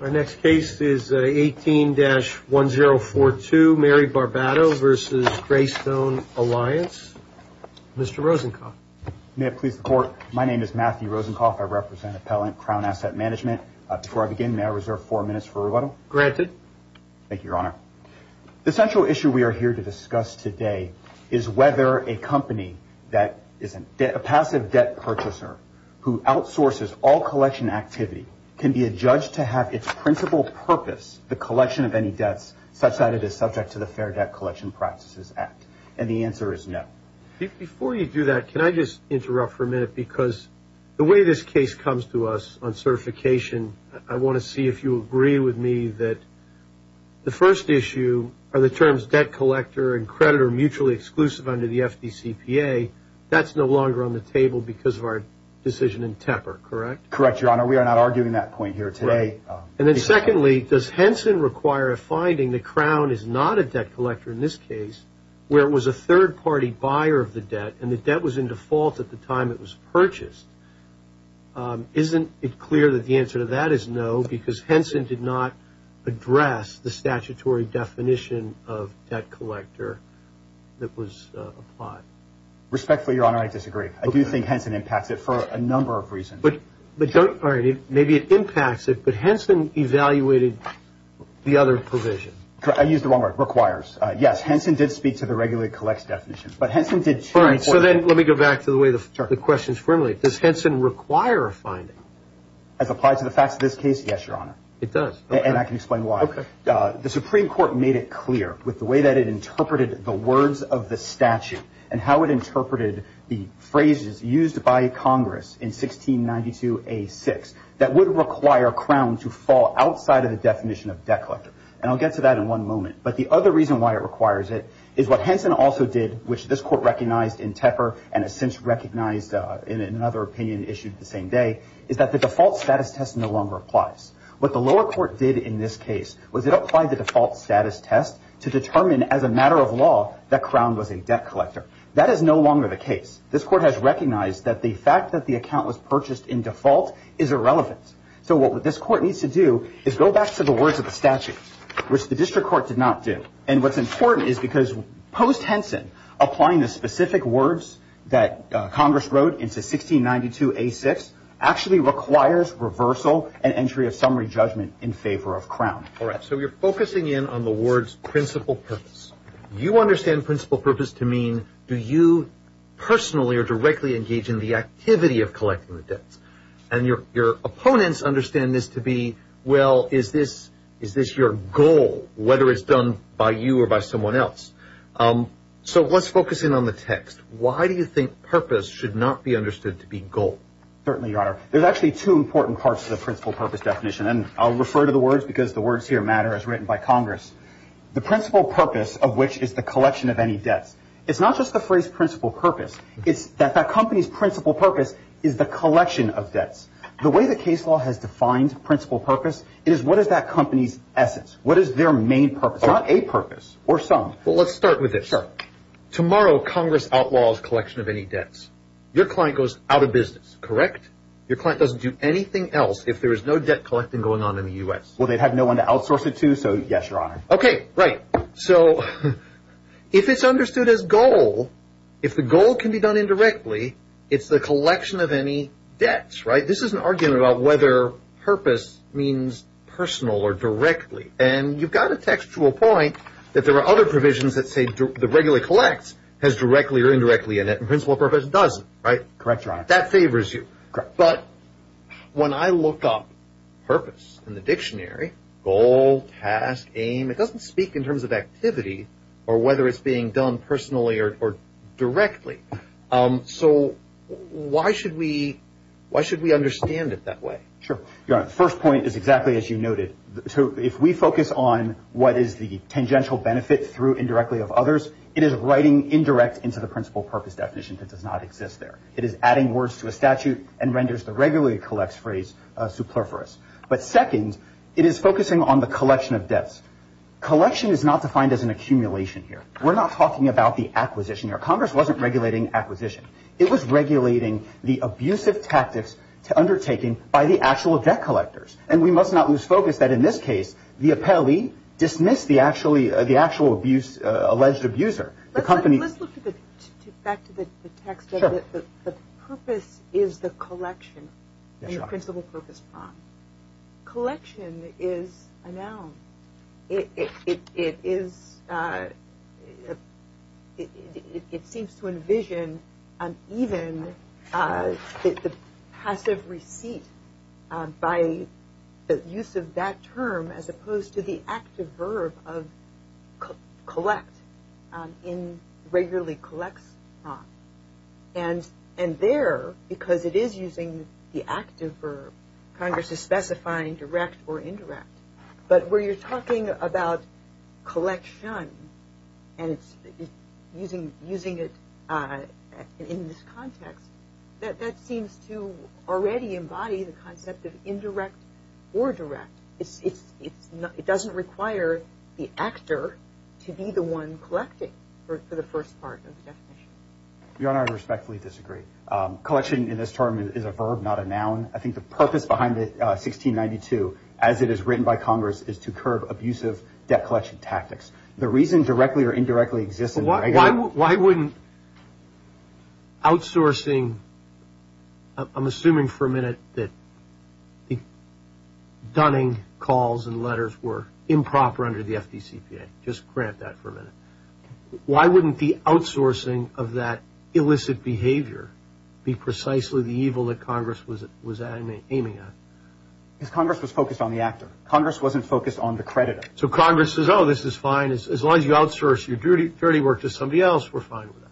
Our next case is 18-1042 Mary Barbato v. Greystone Alliance. Mr. Rosencoff. May it please the court. My name is Matthew Rosencoff. I represent Appellant Crown Asset Management. Before I begin, may I reserve four minutes for rebuttal? Granted. Thank you, Your Honor. The central issue we are here to discuss today is whether a company that is a passive debt purchaser who outsources all collection activity can be adjudged to have its principal purpose, the collection of any debts, such that it is subject to the Fair Debt Collection Practices Act. And the answer is no. Before you do that, can I just interrupt for a minute? Because the way this case comes to us on certification, I want to see if you agree with me that the first issue are the terms debt collector and creditor mutually exclusive under the FDCPA. That's no longer on the table because of our decision in Tepper, correct? Correct, Your Honor. We are not arguing that point here today. And then secondly, does Henson require a finding the Crown is not a debt collector in this case where it was a third-party buyer of the debt and the debt was in default at the time it was purchased? Isn't it clear that the answer to that is no, because Henson did not address the statutory definition of debt collector that was applied? Respectfully, Your Honor, I disagree. I do think Henson impacts it for a number of reasons. But don't – all right, maybe it impacts it, but Henson evaluated the other provision. I used the wrong word, requires. Yes, Henson did speak to the regulated collects definition, but Henson did – All right, so then let me go back to the way the question is formulated. Does Henson require a finding? As applied to the facts of this case, yes, Your Honor. It does? Okay. And I can explain why. Okay. The Supreme Court made it clear with the way that it interpreted the words of the statute and how it interpreted the phrases used by Congress in 1692A6 that would require Crown to fall outside of the definition of debt collector. And I'll get to that in one moment. But the other reason why it requires it is what Henson also did, which this Court recognized in Tepper and has since recognized in another opinion issued the same day, is that the default status test no longer applies. What the lower court did in this case was it applied the default status test to determine as a matter of law that Crown was a debt collector. That is no longer the case. This Court has recognized that the fact that the account was purchased in default is irrelevant. So what this Court needs to do is go back to the words of the statute, which the district court did not do. And what's important is because post-Henson, applying the specific words that Congress wrote into 1692A6 actually requires reversal and entry of summary judgment in favor of Crown. All right. So you're focusing in on the words principal purpose. You understand principal purpose to mean do you personally or directly engage in the activity of collecting the debts. And your opponents understand this to be, well, is this your goal, whether it's done by you or by someone else. So let's focus in on the text. Why do you think purpose should not be understood to be goal? Certainly, Your Honor. There's actually two important parts to the principal purpose definition, and I'll refer to the words because the words here matter as written by Congress. The principal purpose of which is the collection of any debts. It's not just the phrase principal purpose. It's that that company's principal purpose is the collection of debts. The way the case law has defined principal purpose is what is that company's essence? What is their main purpose? It's not a purpose or some. Well, let's start with this. Tomorrow Congress outlaws collection of any debts. Your client goes out of business, correct? Your client doesn't do anything else if there is no debt collecting going on in the U.S. Well, they'd have no one to outsource it to, so yes, Your Honor. Okay, right. So if it's understood as goal, if the goal can be done indirectly, it's the collection of any debts, right? This is an argument about whether purpose means personal or directly, and you've got a textual point that there are other provisions that say the regular collects has directly or indirectly in it, and principal purpose doesn't, right? Correct, Your Honor. That favors you. But when I look up purpose in the dictionary, goal, task, aim, it doesn't speak in terms of activity or whether it's being done personally or directly. So why should we understand it that way? Sure. Your Honor, the first point is exactly as you noted. If we focus on what is the tangential benefit through indirectly of others, it is writing indirect into the principal purpose definition that does not exist there. It is adding words to a statute and renders the regularly collects phrase superfluous. But second, it is focusing on the collection of debts. Collection is not defined as an accumulation here. We're not talking about the acquisition here. Congress wasn't regulating acquisition. It was regulating the abusive tactics undertaken by the actual debt collectors. And we must not lose focus that in this case, the appellee dismissed the actual abuse, alleged abuser. Let's look back to the text. The purpose is the collection and the principal purpose prime. Collection is a noun. It seems to envision even the passive receipt by the use of that term as opposed to the active verb of collect, in regularly collects. And there, because it is using the active verb, Congress is specifying direct or indirect. But where you're talking about collection and using it in this context, that seems to already embody the concept of indirect or direct. It doesn't require the actor to be the one collecting for the first part of the definition. Your Honor, I respectfully disagree. Collection in this term is a verb, not a noun. I think the purpose behind it, 1692, as it is written by Congress, is to curb abusive debt collection tactics. The reason directly or indirectly exists in the regular. Why wouldn't outsourcing, I'm assuming for a minute that the dunning calls and letters were improper under the FDCPA. Just grant that for a minute. Why wouldn't the outsourcing of that illicit behavior be precisely the evil that Congress was aiming at? Because Congress was focused on the actor. Congress wasn't focused on the creditor. So Congress says, oh, this is fine. As long as you outsource your dirty work to somebody else, we're fine with that.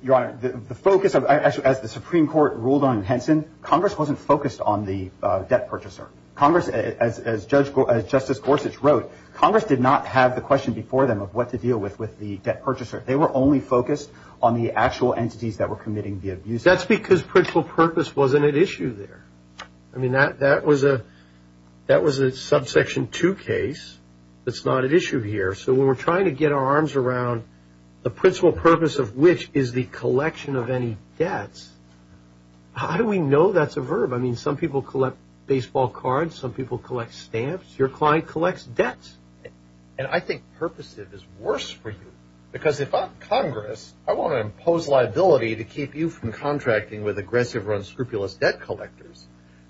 Your Honor, the focus, as the Supreme Court ruled on Henson, Congress wasn't focused on the debt purchaser. Congress, as Justice Gorsuch wrote, Congress did not have the question before them of what to deal with the debt purchaser. They were only focused on the actual entities that were committing the abuse. That's because principal purpose wasn't at issue there. I mean, that was a subsection 2 case that's not at issue here. So when we're trying to get our arms around the principal purpose of which is the collection of any debts, how do we know that's a verb? I mean, some people collect baseball cards. Some people collect stamps. Your client collects debts. And I think purposive is worse for you because if I'm Congress, I want to impose liability to keep you from contracting with aggressive or unscrupulous debt collectors.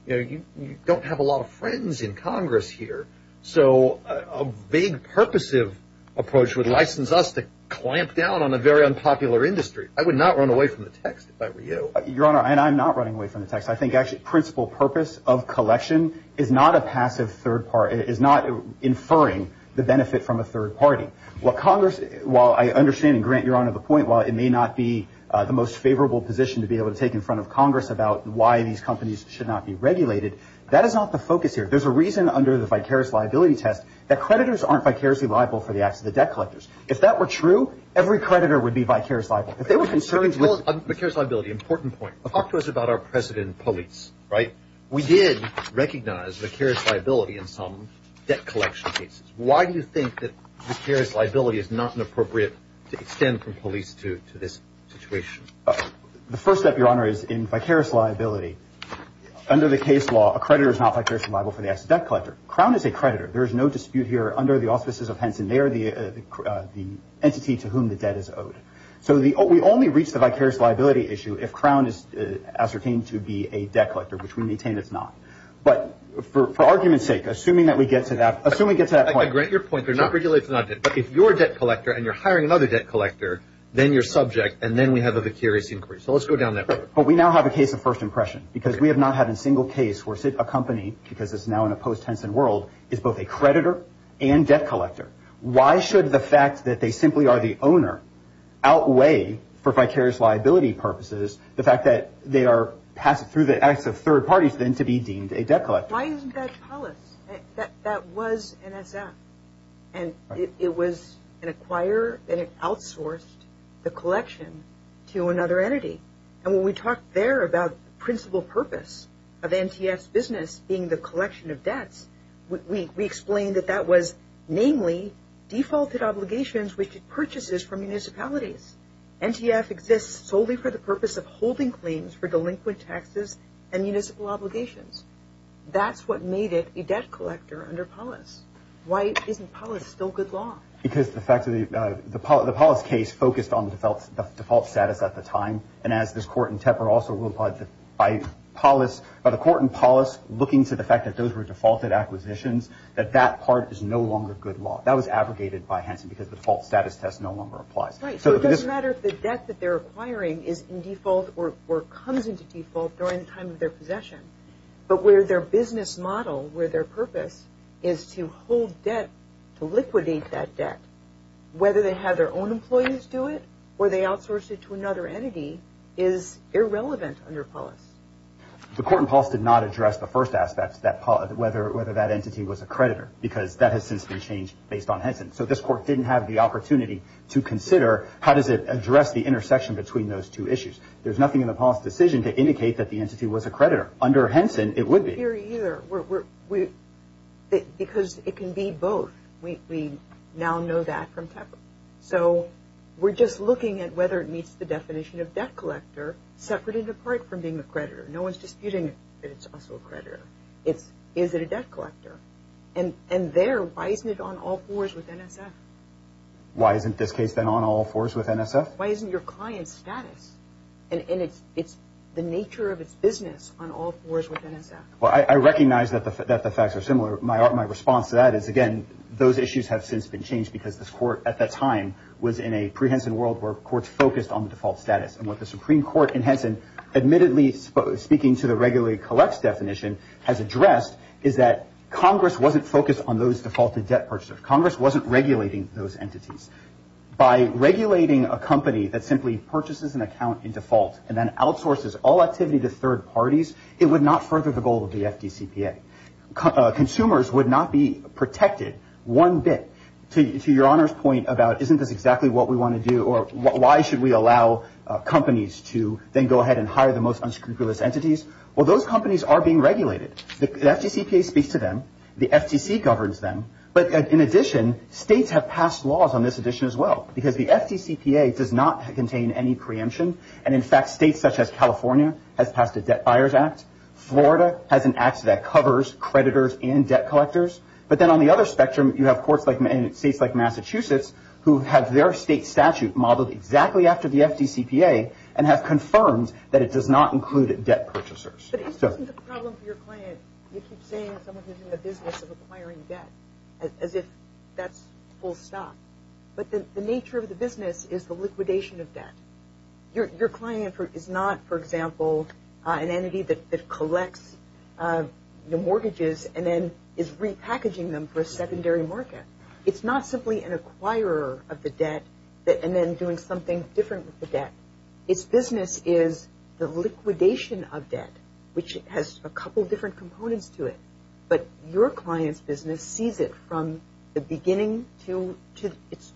You don't have a lot of friends in Congress here. So a big purposive approach would license us to clamp down on a very unpopular industry. I would not run away from the text if I were you. Your Honor, and I'm not running away from the text. I think, actually, principal purpose of collection is not a passive third party, is not inferring the benefit from a third party. Well, Congress, while I understand, and Grant, you're on to the point, while it may not be the most favorable position to be able to take in front of Congress about why these companies should not be regulated, that is not the focus here. There's a reason under the vicarious liability test that creditors aren't vicariously liable for the acts of the debt collectors. If that were true, every creditor would be vicariously liable. If they were concerned with- Vicarious liability, important point. Talk to us about our precedent police, right? We did recognize vicarious liability in some debt collection cases. Why do you think that vicarious liability is not appropriate to extend from police to this situation? The first step, Your Honor, is in vicarious liability. Under the case law, a creditor is not vicariously liable for the acts of the debt collector. Crown is a creditor. There is no dispute here under the auspices of Henson. They are the entity to whom the debt is owed. So we only reach the vicarious liability issue if Crown is ascertained to be a debt collector, which we maintain it's not. But for argument's sake, assuming that we get to that point- I grant your point. They're not vicariously liable. But if you're a debt collector and you're hiring another debt collector, then you're subject, and then we have a vicarious increase. So let's go down that road. But we now have a case of first impression because we have not had a single case where a company, because it's now in a post-Henson world, is both a creditor and debt collector. Why should the fact that they simply are the owner outweigh, for vicarious liability purposes, the fact that they are passed through the acts of third parties then to be deemed a debt collector? Why isn't that policy? That was NSF. And it was an acquirer that had outsourced the collection to another entity. And when we talked there about the principal purpose of NTF's business being the collection of debts, we explained that that was namely defaulted obligations which it purchases from municipalities. NTF exists solely for the purpose of holding claims for delinquent taxes and municipal obligations. That's what made it a debt collector under POLIS. Why isn't POLIS still good law? Because the fact that the POLIS case focused on the default status at the time, and as this court in Tepper also ruled by the court in POLIS looking to the fact that those were defaulted acquisitions, that that part is no longer good law. That was abrogated by Henson because the default status test no longer applies. Right. So it doesn't matter if the debt that they're acquiring is in default or comes into default during the time of their possession. But where their business model, where their purpose is to hold debt, to liquidate that debt, whether they have their own employees do it or they outsource it to another entity is irrelevant under POLIS. The court in POLIS did not address the first aspect, whether that entity was a creditor, because that has since been changed based on Henson. So this court didn't have the opportunity to consider how does it address the intersection between those two issues. There's nothing in the POLIS decision to indicate that the entity was a creditor. Under Henson, it would be. It's not here either. Because it can be both. We now know that from Tepper. So we're just looking at whether it meets the definition of debt collector, separate and apart from being a creditor. No one's disputing that it's also a creditor. Is it a debt collector? And there, why isn't it on all fours with NSF? Why isn't this case then on all fours with NSF? Why isn't your client's status and the nature of its business on all fours with NSF? Well, I recognize that the facts are similar. My response to that is, again, those issues have since been changed because this court at the time was in a pre-Henson world where courts focused on the default status. And what the Supreme Court in Henson admittedly, speaking to the regulated collects definition, has addressed is that Congress wasn't focused on those defaulted debt purchasers. Congress wasn't regulating those entities. By regulating a company that simply purchases an account in default and then outsources all activity to third parties, it would not further the goal of the FDCPA. Consumers would not be protected one bit. To your Honor's point about isn't this exactly what we want to do or why should we allow companies to then go ahead and hire the most unscrupulous entities? Well, those companies are being regulated. The FDCPA speaks to them. The FTC governs them. But in addition, states have passed laws on this addition as well because the FDCPA does not contain any preemption. And in fact, states such as California has passed a Debt Buyers Act. Florida has an act that covers creditors and debt collectors. But then on the other spectrum, you have courts in states like Massachusetts who have their state statute modeled exactly after the FDCPA and have confirmed that it does not include debt purchasers. But isn't the problem for your client, you keep saying someone is in the business of acquiring debt as if that's full stop. But the nature of the business is the liquidation of debt. Your client is not, for example, an entity that collects mortgages and then is repackaging them for a secondary market. It's not simply an acquirer of the debt and then doing something different with the debt. Its business is the liquidation of debt, which has a couple different components to it. But your client's business sees it from the beginning to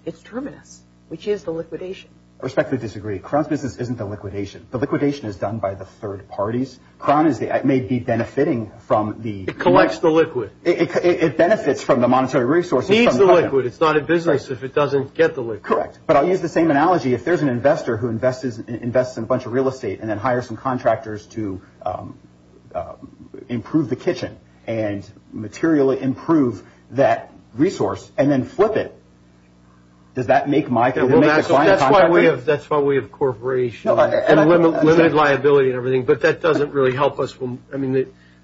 its terminus, which is the liquidation. I respectfully disagree. Crown's business isn't the liquidation. The liquidation is done by the third parties. Crown may be benefiting from the— It collects the liquid. It benefits from the monetary resources. It needs the liquid. It's not a business if it doesn't get the liquid. Correct. But I'll use the same analogy. If there's an investor who invests in a bunch of real estate and then hires some contractors to improve the kitchen and materially improve that resource and then flip it, does that make my client— That's why we have corporations and limit liability and everything. But that doesn't really help us.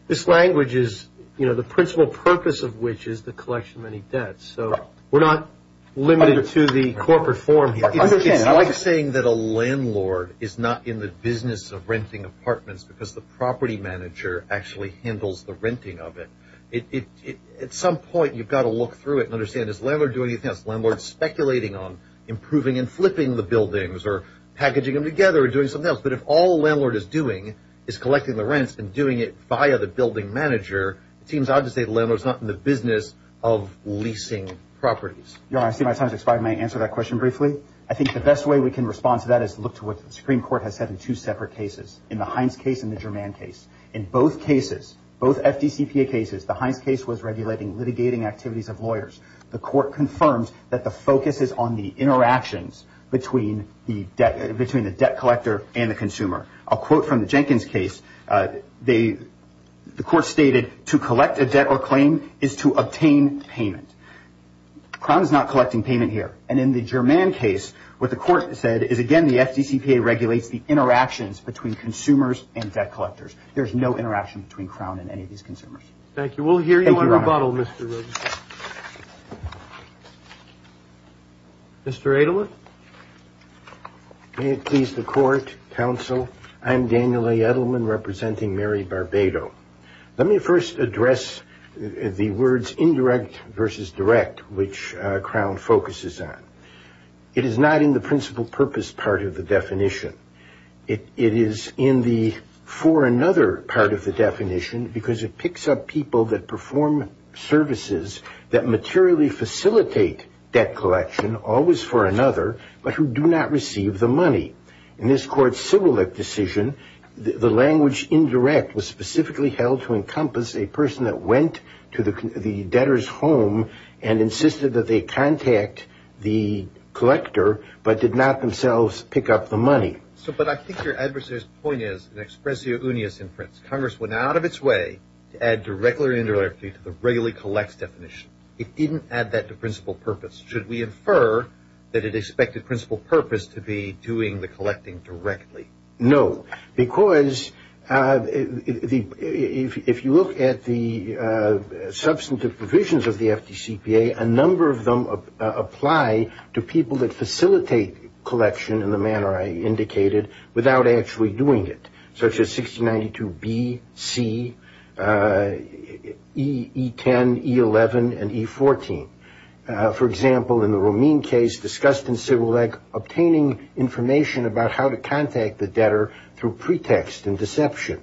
This language is the principal purpose of which is the collection of any debts. We're not limited to the corporate form here. It's like saying that a landlord is not in the business of renting apartments because the property manager actually handles the renting of it. At some point, you've got to look through it and understand, is the landlord doing anything else? Is the landlord speculating on improving and flipping the buildings or packaging them together or doing something else? But if all a landlord is doing is collecting the rents and doing it via the building manager, it seems odd to say the landlord is not in the business of leasing properties. Your Honor, I see my time has expired. May I answer that question briefly? I think the best way we can respond to that is to look to what the Supreme Court has said in two separate cases, in the Hines case and the Germann case. In both cases, both FDCPA cases, the Hines case was regulating litigating activities of lawyers. The court confirmed that the focus is on the interactions between the debt collector and the consumer. A quote from the Jenkins case, the court stated, to collect a debt or claim is to obtain payment. Crown is not collecting payment here. And in the Germann case, what the court said is, again, the FDCPA regulates the interactions between consumers and debt collectors. There's no interaction between Crown and any of these consumers. Thank you. Thank you, Your Honor. We'll hear you on rebuttal, Mr. Rosenstein. Mr. Edelman? May it please the court, counsel, I'm Daniel A. Edelman, representing Mary Barbado. Let me first address the words indirect versus direct, which Crown focuses on. It is in the for another part of the definition, because it picks up people that perform services that materially facilitate debt collection, always for another, but who do not receive the money. In this court's civil lit decision, the language indirect was specifically held to encompass a person that went to the debtor's home and insisted that they contact the collector, but did not themselves pick up the money. But I think your adversary's point is an expressio unius in Prince. Congress went out of its way to add direct or indirect to the regularly collects definition. It didn't add that to principal purpose. Should we infer that it expected principal purpose to be doing the collecting directly? No, because if you look at the substantive provisions of the FDCPA, a number of them apply to people that facilitate collection in the manner I indicated without actually doing it, such as 6092B, C, E10, E11, and E14. For example, in the Romine case discussed in civil leg, obtaining information about how to contact the debtor through pretext and deception.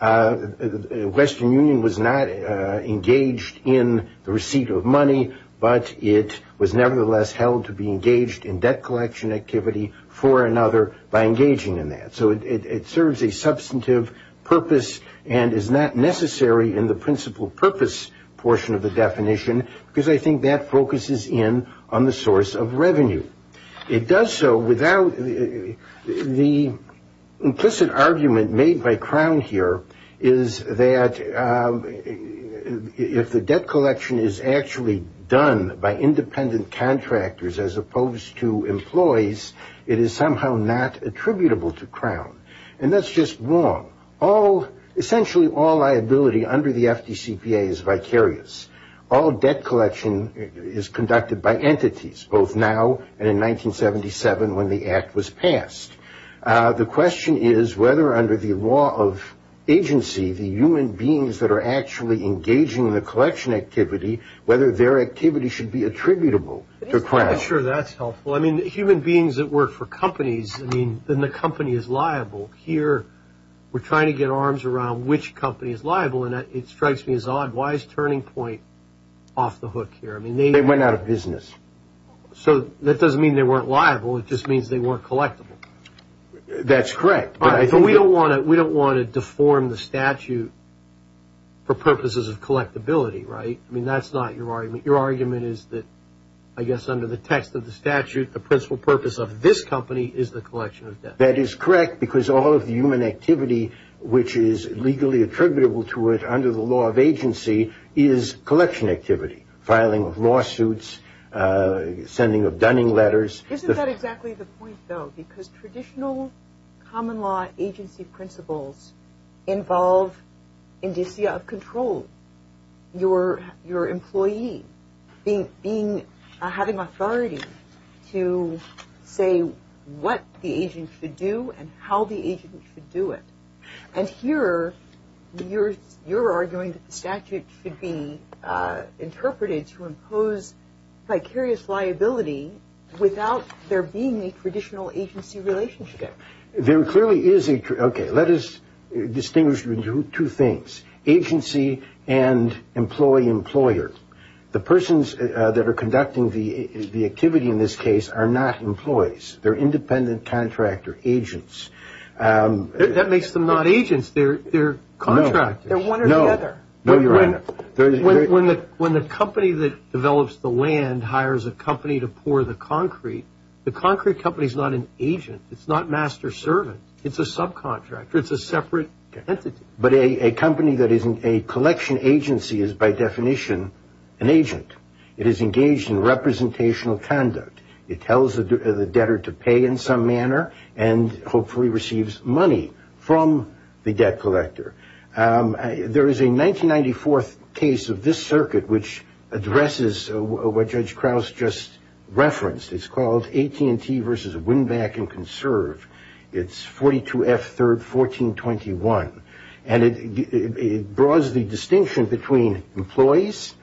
The Western Union was not engaged in the receipt of money, but it was nevertheless held to be engaged in debt collection activity for another by engaging in that. So it serves a substantive purpose and is not necessary in the principal purpose portion of the definition, because I think that focuses in on the source of revenue. It does so without the implicit argument made by Crown here, is that if the debt collection is actually done by independent contractors as opposed to employees, it is somehow not attributable to Crown. And that's just wrong. Essentially all liability under the FDCPA is vicarious. All debt collection is conducted by entities, both now and in 1977 when the Act was passed. The question is whether under the law of agency, the human beings that are actually engaging in the collection activity, whether their activity should be attributable to Crown. I'm not sure that's helpful. I mean, human beings that work for companies, I mean, then the company is liable. Here we're trying to get arms around which company is liable, and it strikes me as odd. Why is Turning Point off the hook here? They went out of business. So that doesn't mean they weren't liable. It just means they weren't collectible. That's correct. But we don't want to deform the statute for purposes of collectability, right? I mean, that's not your argument. Your argument is that, I guess, under the text of the statute, the principal purpose of this company is the collection of debt. That is correct because all of the human activity which is legally attributable to it under the law of agency is collection activity, filing of lawsuits, sending of dunning letters. Isn't that exactly the point, though? Because traditional common law agency principles involve indicia of control. Your employee having authority to say what the agent should do and how the agent should do it. And here you're arguing that the statute should be interpreted to impose vicarious liability without there being a traditional agency relationship. There clearly is a – okay, let us distinguish between two things. Agency and employee-employer. The persons that are conducting the activity in this case are not employees. They're independent contractor agents. That makes them not agents. They're contractors. No. They're one or the other. No, Your Honor. When the company that develops the land hires a company to pour the concrete, the concrete company is not an agent. It's not master servant. It's a subcontractor. It's a separate entity. But a company that is a collection agency is by definition an agent. It is engaged in representational conduct. It tells the debtor to pay in some manner and hopefully receives money from the debt collector. There is a 1994 case of this circuit which addresses what Judge Krauss just referenced. It's called AT&T v. Winback & Conserve. It's 42F 3rd 1421. And it draws the distinction between employees,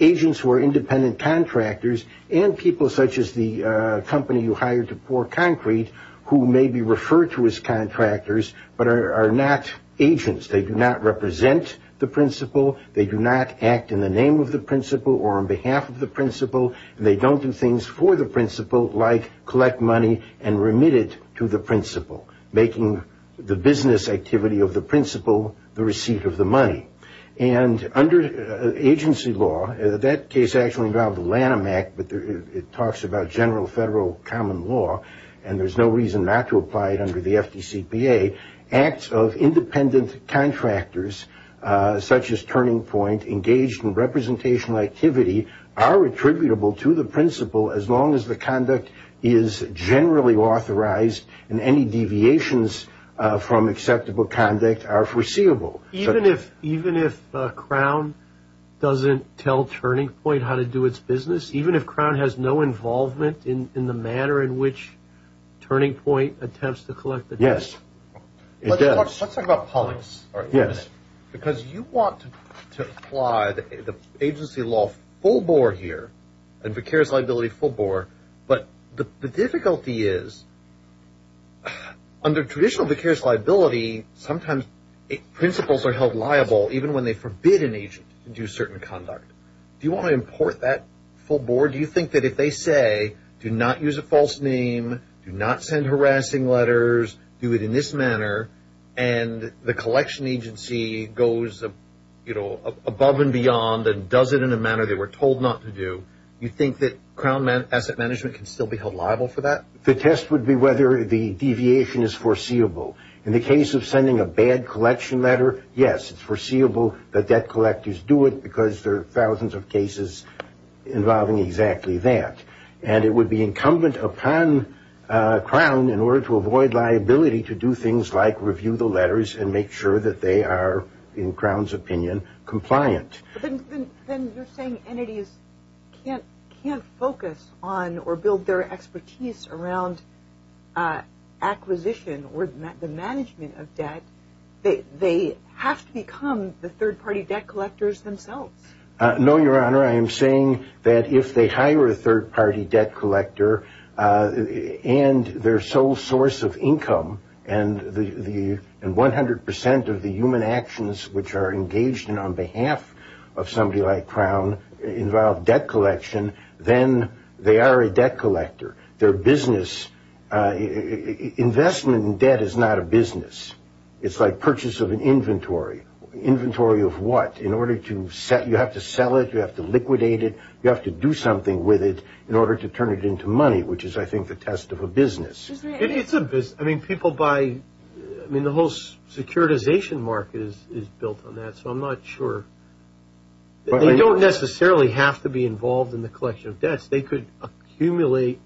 agents who are independent contractors, and people such as the company who hired to pour concrete who may be referred to as contractors but are not agents. They do not represent the principal. They do not act in the name of the principal or on behalf of the principal. They don't do things for the principal like collect money and remit it to the principal, making the business activity of the principal the receipt of the money. And under agency law, that case actually involved the Lanham Act, but it talks about general federal common law, and there's no reason not to apply it under the FDCPA, acts of independent contractors such as Turning Point engaged in representational activity are attributable to the principal as long as the conduct is generally authorized and any deviations from acceptable conduct are foreseeable. Even if Crown doesn't tell Turning Point how to do its business, even if Crown has no involvement in the manner in which Turning Point attempts to collect the debt? Yes. Let's talk about politics for a minute. Because you want to apply the agency law full bore here, and vicarious liability full bore, but the difficulty is under traditional vicarious liability, sometimes principals are held liable even when they forbid an agent to do certain conduct. Do you want to import that full bore? Do you think that if they say do not use a false name, do not send harassing letters, do it in this manner, and the collection agency goes above and beyond and does it in a manner they were told not to do, you think that Crown asset management can still be held liable for that? The test would be whether the deviation is foreseeable. In the case of sending a bad collection letter, yes, it's foreseeable that debt collectors do it because there are thousands of cases involving exactly that. And it would be incumbent upon Crown in order to avoid liability to do things like review the letters and make sure that they are, in Crown's opinion, compliant. Then you're saying entities can't focus on or build their expertise around acquisition or the management of debt. They have to become the third party debt collectors themselves. No, Your Honor. I am saying that if they hire a third party debt collector and their sole source of income and 100% of the human actions which are engaged in on behalf of somebody like Crown involve debt collection, then they are a debt collector. Their business, investment in debt is not a business. It's like purchase of an inventory. Inventory of what? You have to sell it, you have to liquidate it, you have to do something with it in order to turn it into money, which is, I think, the test of a business. It's a business. I mean, the whole securitization market is built on that, so I'm not sure. They don't necessarily have to be involved in the collection of debts. They could accumulate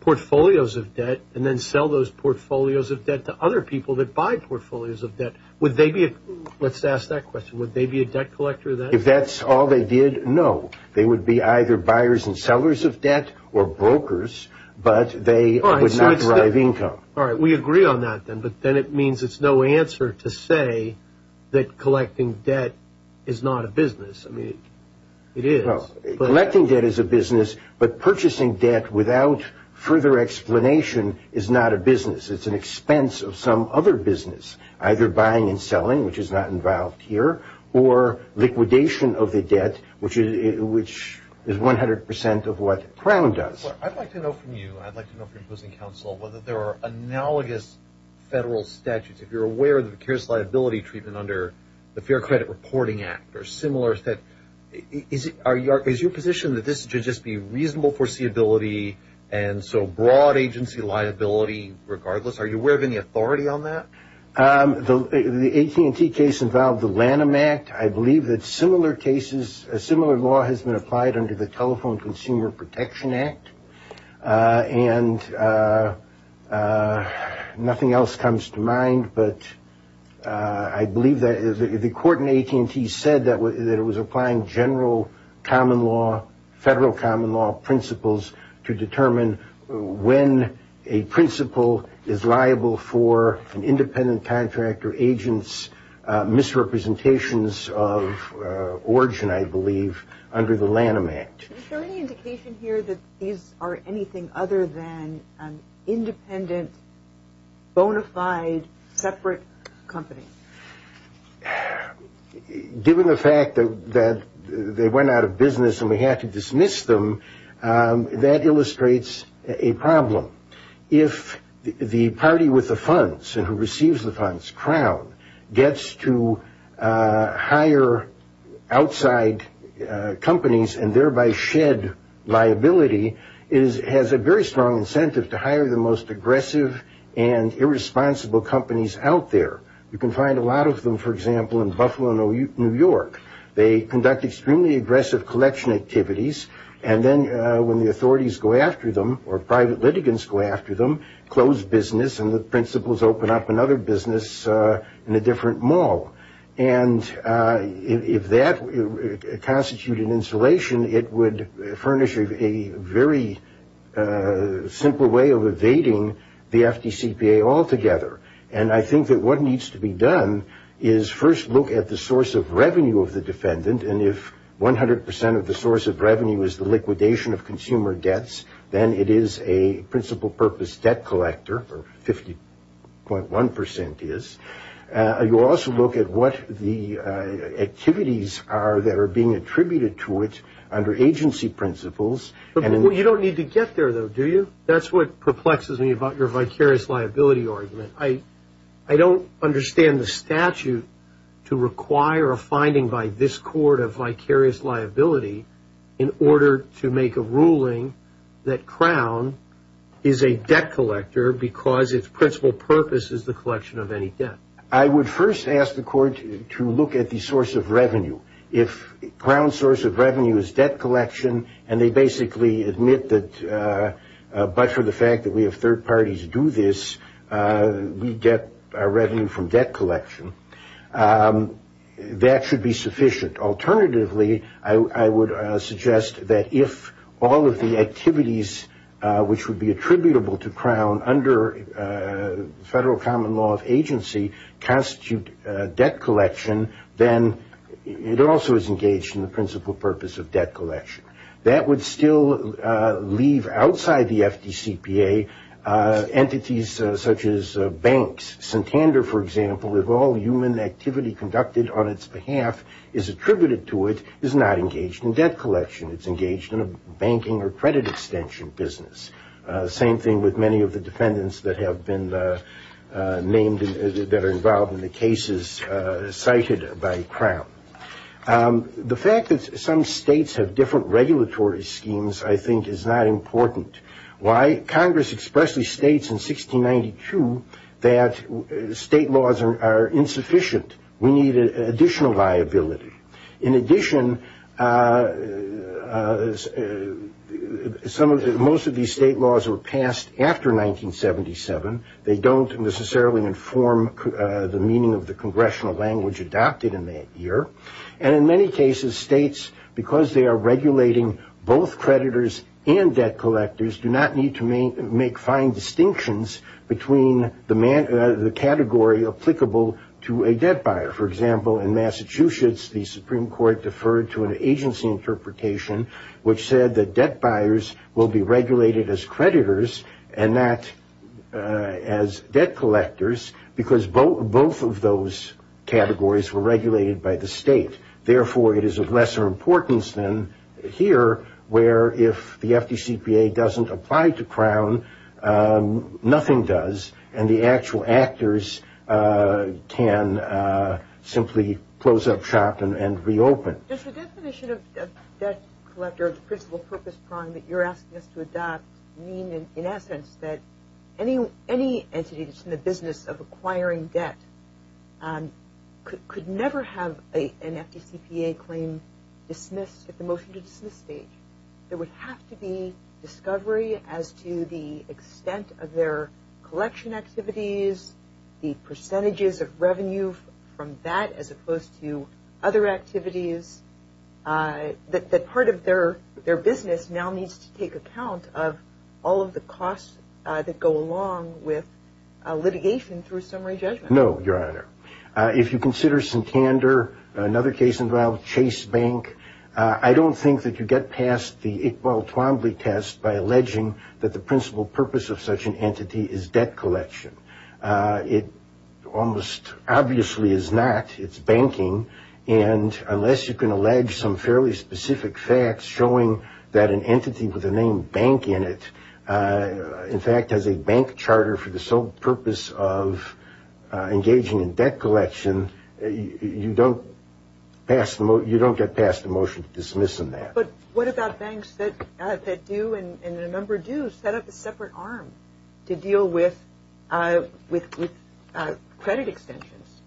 portfolios of debt and then sell those portfolios of debt to other people that buy portfolios of debt. Let's ask that question. Would they be a debt collector then? If that's all they did, no. They would be either buyers and sellers of debt or brokers, but they would not drive income. All right. We agree on that then, but then it means it's no answer to say that collecting debt is not a business. I mean, it is. Collecting debt is a business, but purchasing debt without further explanation is not a business. It's an expense of some other business, either buying and selling, which is not involved here, or liquidation of the debt, which is 100% of what Crown does. I'd like to know from you, I'd like to know from your opposing counsel, whether there are analogous federal statutes. If you're aware of the precarious liability treatment under the Fair Credit Reporting Act or similar, is your position that this should just be reasonable foreseeability and so broad agency liability regardless? Are you aware of any authority on that? The AT&T case involved the Lanham Act. I believe that similar cases, a similar law has been applied under the Telephone Consumer Protection Act, and nothing else comes to mind, but I believe that the court in AT&T said that it was applying general common law, federal common law principles to determine when a principle is liable for an independent contractor agent's misrepresentations of origin, I believe, under the Lanham Act. Is there any indication here that these are anything other than independent, bona fide, separate companies? Given the fact that they went out of business and we have to dismiss them, that illustrates a problem. If the party with the funds and who receives the funds, Crown, gets to hire outside companies and thereby shed liability, it has a very strong incentive to hire the most aggressive and irresponsible companies out there. You can find a lot of them, for example, in Buffalo, New York. They conduct extremely aggressive collection activities, and then when the authorities go after them or private litigants go after them, close business and the principles open up another business in a different mall. And if that constituted insulation, it would furnish a very simple way of evading the FDCPA altogether. And I think that what needs to be done is first look at the source of revenue of the defendant, and if 100 percent of the source of revenue is the liquidation of consumer debts, then it is a principal purpose debt collector, or 50.1 percent is. You also look at what the activities are that are being attributed to it under agency principles. But you don't need to get there, though, do you? That's what perplexes me about your vicarious liability argument. I don't understand the statute to require a finding by this court of vicarious liability in order to make a ruling that Crown is a debt collector because its principal purpose is the collection of any debt. I would first ask the court to look at the source of revenue. If Crown's source of revenue is debt collection, and they basically admit that, but for the fact that we have third parties do this, we get our revenue from debt collection, that should be sufficient. If third parties, which would be attributable to Crown under federal common law of agency, constitute debt collection, then it also is engaged in the principal purpose of debt collection. That would still leave outside the FDCPA entities such as banks. Santander, for example, if all human activity conducted on its behalf is attributed to it, is not engaged in debt collection. It's engaged in a banking or credit extension business. Same thing with many of the defendants that have been named, that are involved in the cases cited by Crown. The fact that some states have different regulatory schemes, I think, is not important. Why? Congress expressly states in 1692 that state laws are insufficient. We need additional liability. In addition, most of these state laws were passed after 1977. They don't necessarily inform the meaning of the congressional language adopted in that year. And in many cases, states, because they are regulating both creditors and debt collectors, do not need to make fine distinctions between the category applicable to a debt buyer. For example, in Massachusetts, the Supreme Court deferred to an agency interpretation, which said that debt buyers will be regulated as creditors and not as debt collectors, because both of those categories were regulated by the state. Therefore, it is of lesser importance than here, where if the FDCPA doesn't apply to Crown, nothing does, and the actual actors can simply close up shop and reopen. Does the definition of debt collector, of the principle purpose, that you're asking us to adopt mean, in essence, that any entity that's in the business of acquiring debt could never have an FDCPA claim dismissed at the motion-to-dismiss stage? There would have to be discovery as to the extent of their collection activities, the percentages of revenue from that as opposed to other activities, that part of their business now needs to take account of all of the costs that go along with litigation through summary judgment. No, Your Honor. If you consider Santander, another case involved, Chase Bank, I don't think that you get past the Iqbal Twombly test by alleging that the principle purpose of such an entity is debt collection. It almost obviously is not. It's banking. And unless you can allege some fairly specific facts showing that an entity with the name bank in it, in fact, has a bank charter for the sole purpose of engaging in debt collection, you don't get past the motion-to-dismiss in that. But what about banks that do, and a number do, set up a separate arm to deal with credit extensions,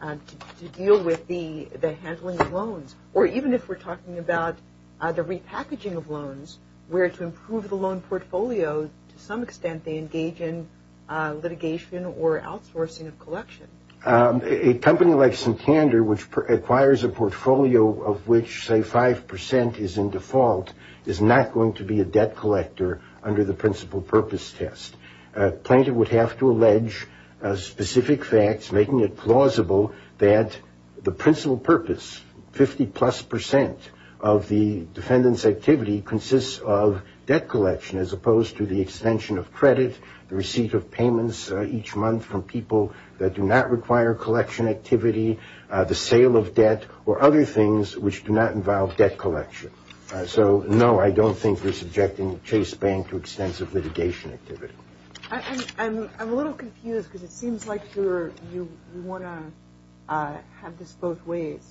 to deal with the handling of loans? Or even if we're talking about the repackaging of loans, where to improve the loan portfolio, to some extent they engage in litigation or outsourcing of collection. A company like Santander, which acquires a portfolio of which, say, 5% is in default, is not going to be a debt collector under the principle purpose test. Plaintiff would have to allege specific facts making it plausible that the principle purpose, 50-plus percent of the defendant's activity consists of debt collection as opposed to the extension of credit, the receipt of payments each month from people that do not require collection activity, the sale of debt, or other things which do not involve debt collection. So, no, I don't think we're subjecting Chase Bank to extensive litigation activity. I'm a little confused because it seems like you want to have this both ways.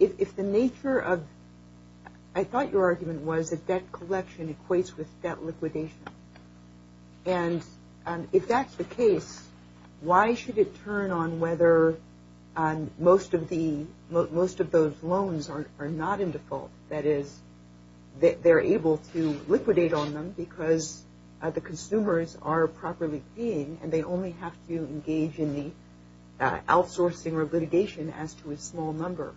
If the nature of, I thought your argument was that debt collection equates with debt liquidation. And if that's the case, why should it turn on whether most of those loans are not in default? That is, they're able to liquidate on them because the consumers are properly paying and they only have to engage in the outsourcing or litigation as to a small number.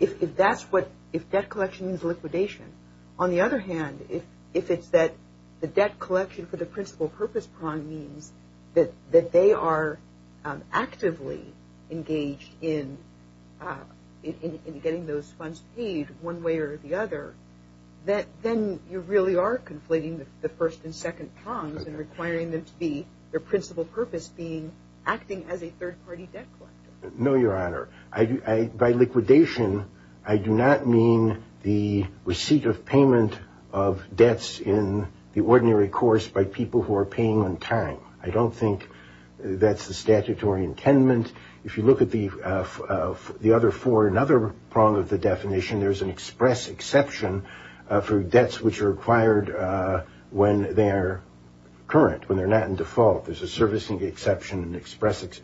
If that's what, if debt collection is liquidation, on the other hand, if it's that the debt collection for the principle purpose prong means that they are actively engaged in getting those funds paid one way or the other, then you really are conflating the first and second prongs and requiring them to be their principle purpose being acting as a third-party debt collector. No, Your Honor. By liquidation, I do not mean the receipt of payment of debts in the ordinary course by people who are paying on time. I don't think that's the statutory intendment. If you look at the other four, another prong of the definition, there's an express exception for debts which are acquired when they are current, when they're not in default. There's a servicing exception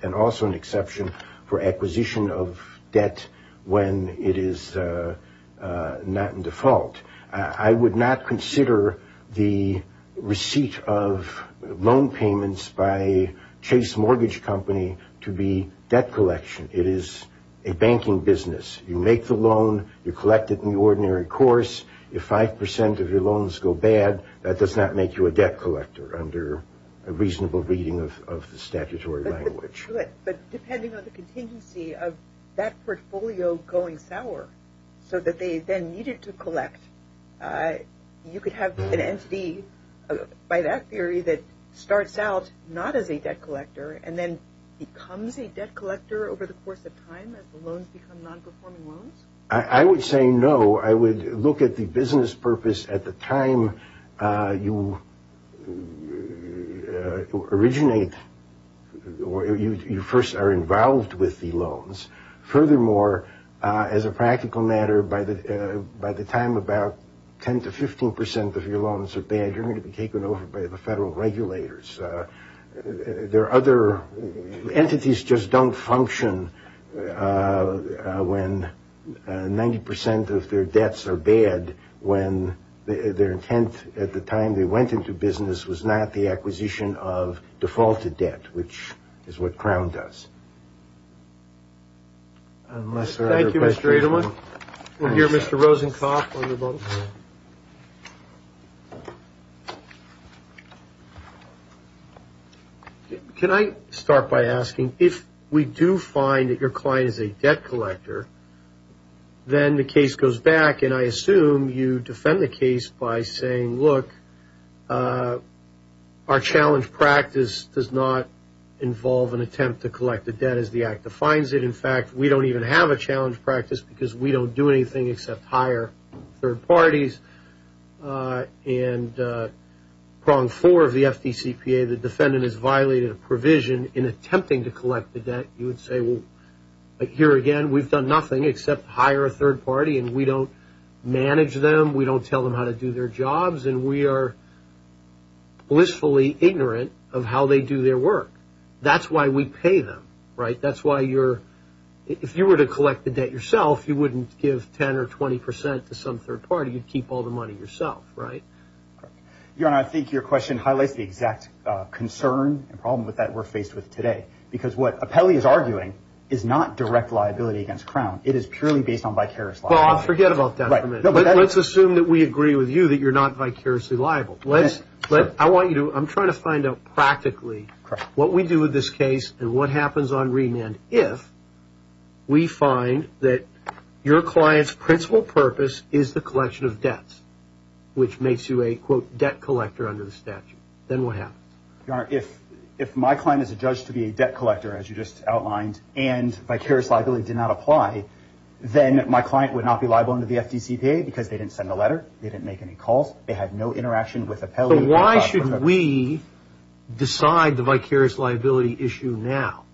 and also an exception for acquisition of debt when it is not in default. I would not consider the receipt of loan payments by Chase Mortgage Company to be debt collection. It is a banking business. You make the loan. You collect it in the ordinary course. If 5% of your loans go bad, that does not make you a debt collector under a reasonable reading of the statutory language. But depending on the contingency of that portfolio going sour so that they then needed to collect, you could have an entity by that theory that starts out not as a debt collector and then becomes a debt collector over the course of time as the loans become non-performing loans? I would say no. I would look at the business purpose at the time you originate or you first are involved with the loans. Furthermore, as a practical matter, by the time about 10% to 15% of your loans are bad, you're going to be taken over by the federal regulators. There are other entities just don't function when 90% of their debts are bad when their intent at the time they went into business was not the acquisition of defaulted debt, which is what Crown does. Thank you, Mr. Edelman. We'll hear Mr. Rosenkopf on the phone. Can I start by asking, if we do find that your client is a debt collector, then the case goes back, and I assume you defend the case by saying, look, our challenge practice does not involve an attempt to collect the debt as the Act defines it. In fact, we don't even have a challenge practice because we don't do anything except hire third parties. And prong four of the FDCPA, the defendant has violated a provision in attempting to collect the debt. You would say, well, here again, we've done nothing except hire a third party, and we don't manage them. We don't tell them how to do their jobs, and we are blissfully ignorant of how they do their work. That's why we pay them, right? That's why if you were to collect the debt yourself, you wouldn't give 10 or 20 percent to some third party. You'd keep all the money yourself, right? Your Honor, I think your question highlights the exact concern and problem with that we're faced with today, because what Apelli is arguing is not direct liability against Crown. It is purely based on vicarious liability. Well, forget about that for a minute. Let's assume that we agree with you that you're not vicariously liable. I'm trying to find out practically what we do with this case and what happens on remand if we find that your client's principal purpose is the collection of debts, which makes you a, quote, debt collector under the statute. Then what happens? Your Honor, if my client is adjudged to be a debt collector, as you just outlined, and vicarious liability did not apply, then my client would not be liable under the FDCPA because they didn't send a letter, they didn't make any calls, they had no interaction with Apelli. So why should we decide the vicarious liability issue now?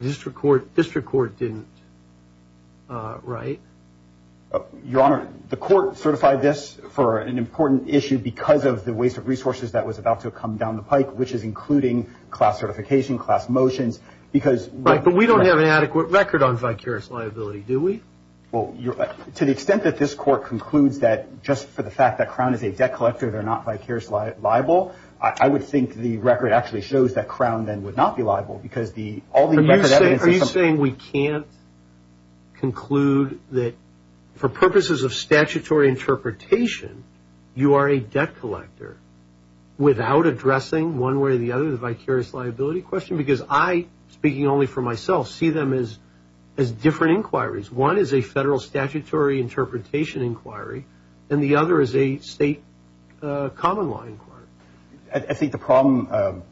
The district court didn't, right? Your Honor, the court certified this for an important issue because of the waste of resources that was about to come down the pike, which is including class certification, class motions. Right, but we don't have an adequate record on vicarious liability, do we? To the extent that this court concludes that just for the fact that Crown is a debt collector they're not vicarious liable, I would think the record actually shows that Crown then would not be liable because all the record evidence is something else. Are you saying we can't conclude that for purposes of statutory interpretation you are a debt collector without addressing one way or the other the vicarious liability question? Because I, speaking only for myself, see them as different inquiries. One is a federal statutory interpretation inquiry and the other is a state common law inquiry. I think the problem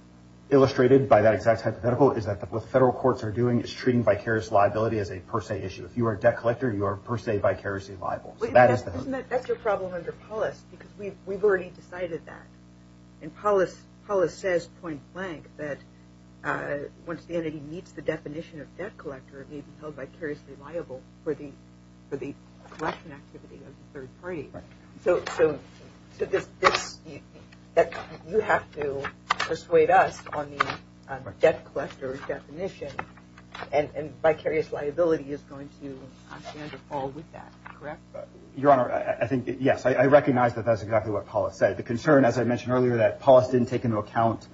illustrated by that exact hypothetical is that what the federal courts are doing is treating vicarious liability as a per se issue. If you are a debt collector, you are per se vicariously liable. That's your problem under Polis because we've already decided that. And Polis says point blank that once the entity meets the definition of debt collector it may be held vicariously liable for the collection activity of the third party. So you have to persuade us on the debt collector definition and vicarious liability is going to fall with that, correct? Your Honor, I think, yes, I recognize that that's exactly what Polis said. The concern, as I mentioned earlier, that Polis didn't take into account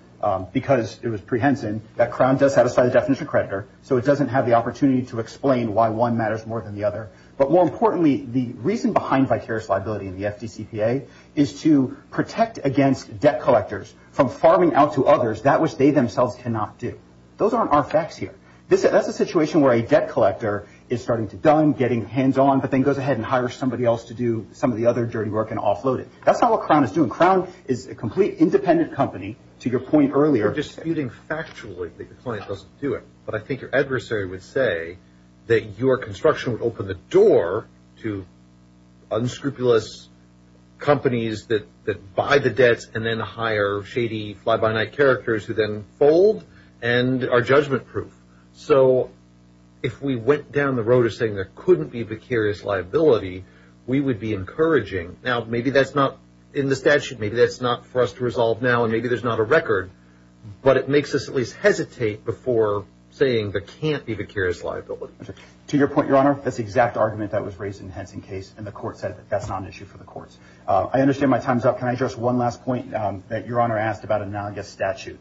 because it was prehensile and that Crown does satisfy the definition of creditor so it doesn't have the opportunity to explain why one matters more than the other. But more importantly, the reason behind vicarious liability in the FDCPA is to protect against debt collectors from farming out to others that which they themselves cannot do. Those aren't our facts here. That's a situation where a debt collector is starting to dumb, getting hands on, but then goes ahead and hires somebody else to do some of the other dirty work and offload it. That's not what Crown is doing. Crown is a complete independent company, to your point earlier. You're disputing factually that the client doesn't do it, but I think your adversary would say that your construction would open the door to unscrupulous companies that buy the debts and then hire shady, fly-by-night characters who then fold and are judgment-proof. So if we went down the road of saying there couldn't be vicarious liability, we would be encouraging. Now, maybe that's not in the statute. Maybe that's not for us to resolve now, and maybe there's not a record. But it makes us at least hesitate before saying there can't be vicarious liability. To your point, Your Honor, that's the exact argument that was raised in the Henson case, and the court said that's not an issue for the courts. I understand my time's up. Can I address one last point that Your Honor asked about a non-guest statute?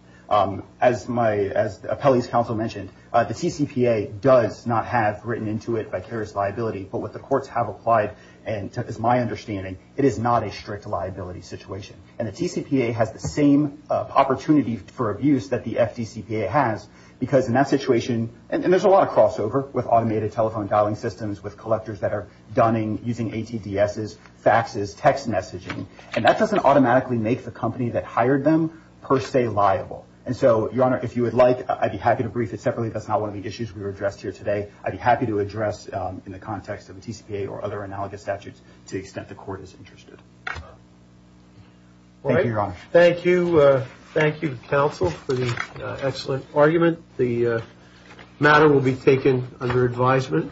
As my appellee's counsel mentioned, the TCPA does not have written into it vicarious liability, but what the courts have applied, as my understanding, it is not a strict liability situation. And the TCPA has the same opportunity for abuse that the FDCPA has, because in that situation, and there's a lot of crossover with automated telephone dialing systems, with collectors that are donning, using ATDSs, faxes, text messaging, and that doesn't automatically make the company that hired them per se liable. And so, Your Honor, if you would like, I'd be happy to brief it separately. That's not one of the issues we addressed here today. I'd be happy to address in the context of a TCPA or other analogous statutes to the extent the court is interested. Thank you, Your Honor. Thank you. Thank you, counsel, for the excellent argument. The matter will be taken under advisement.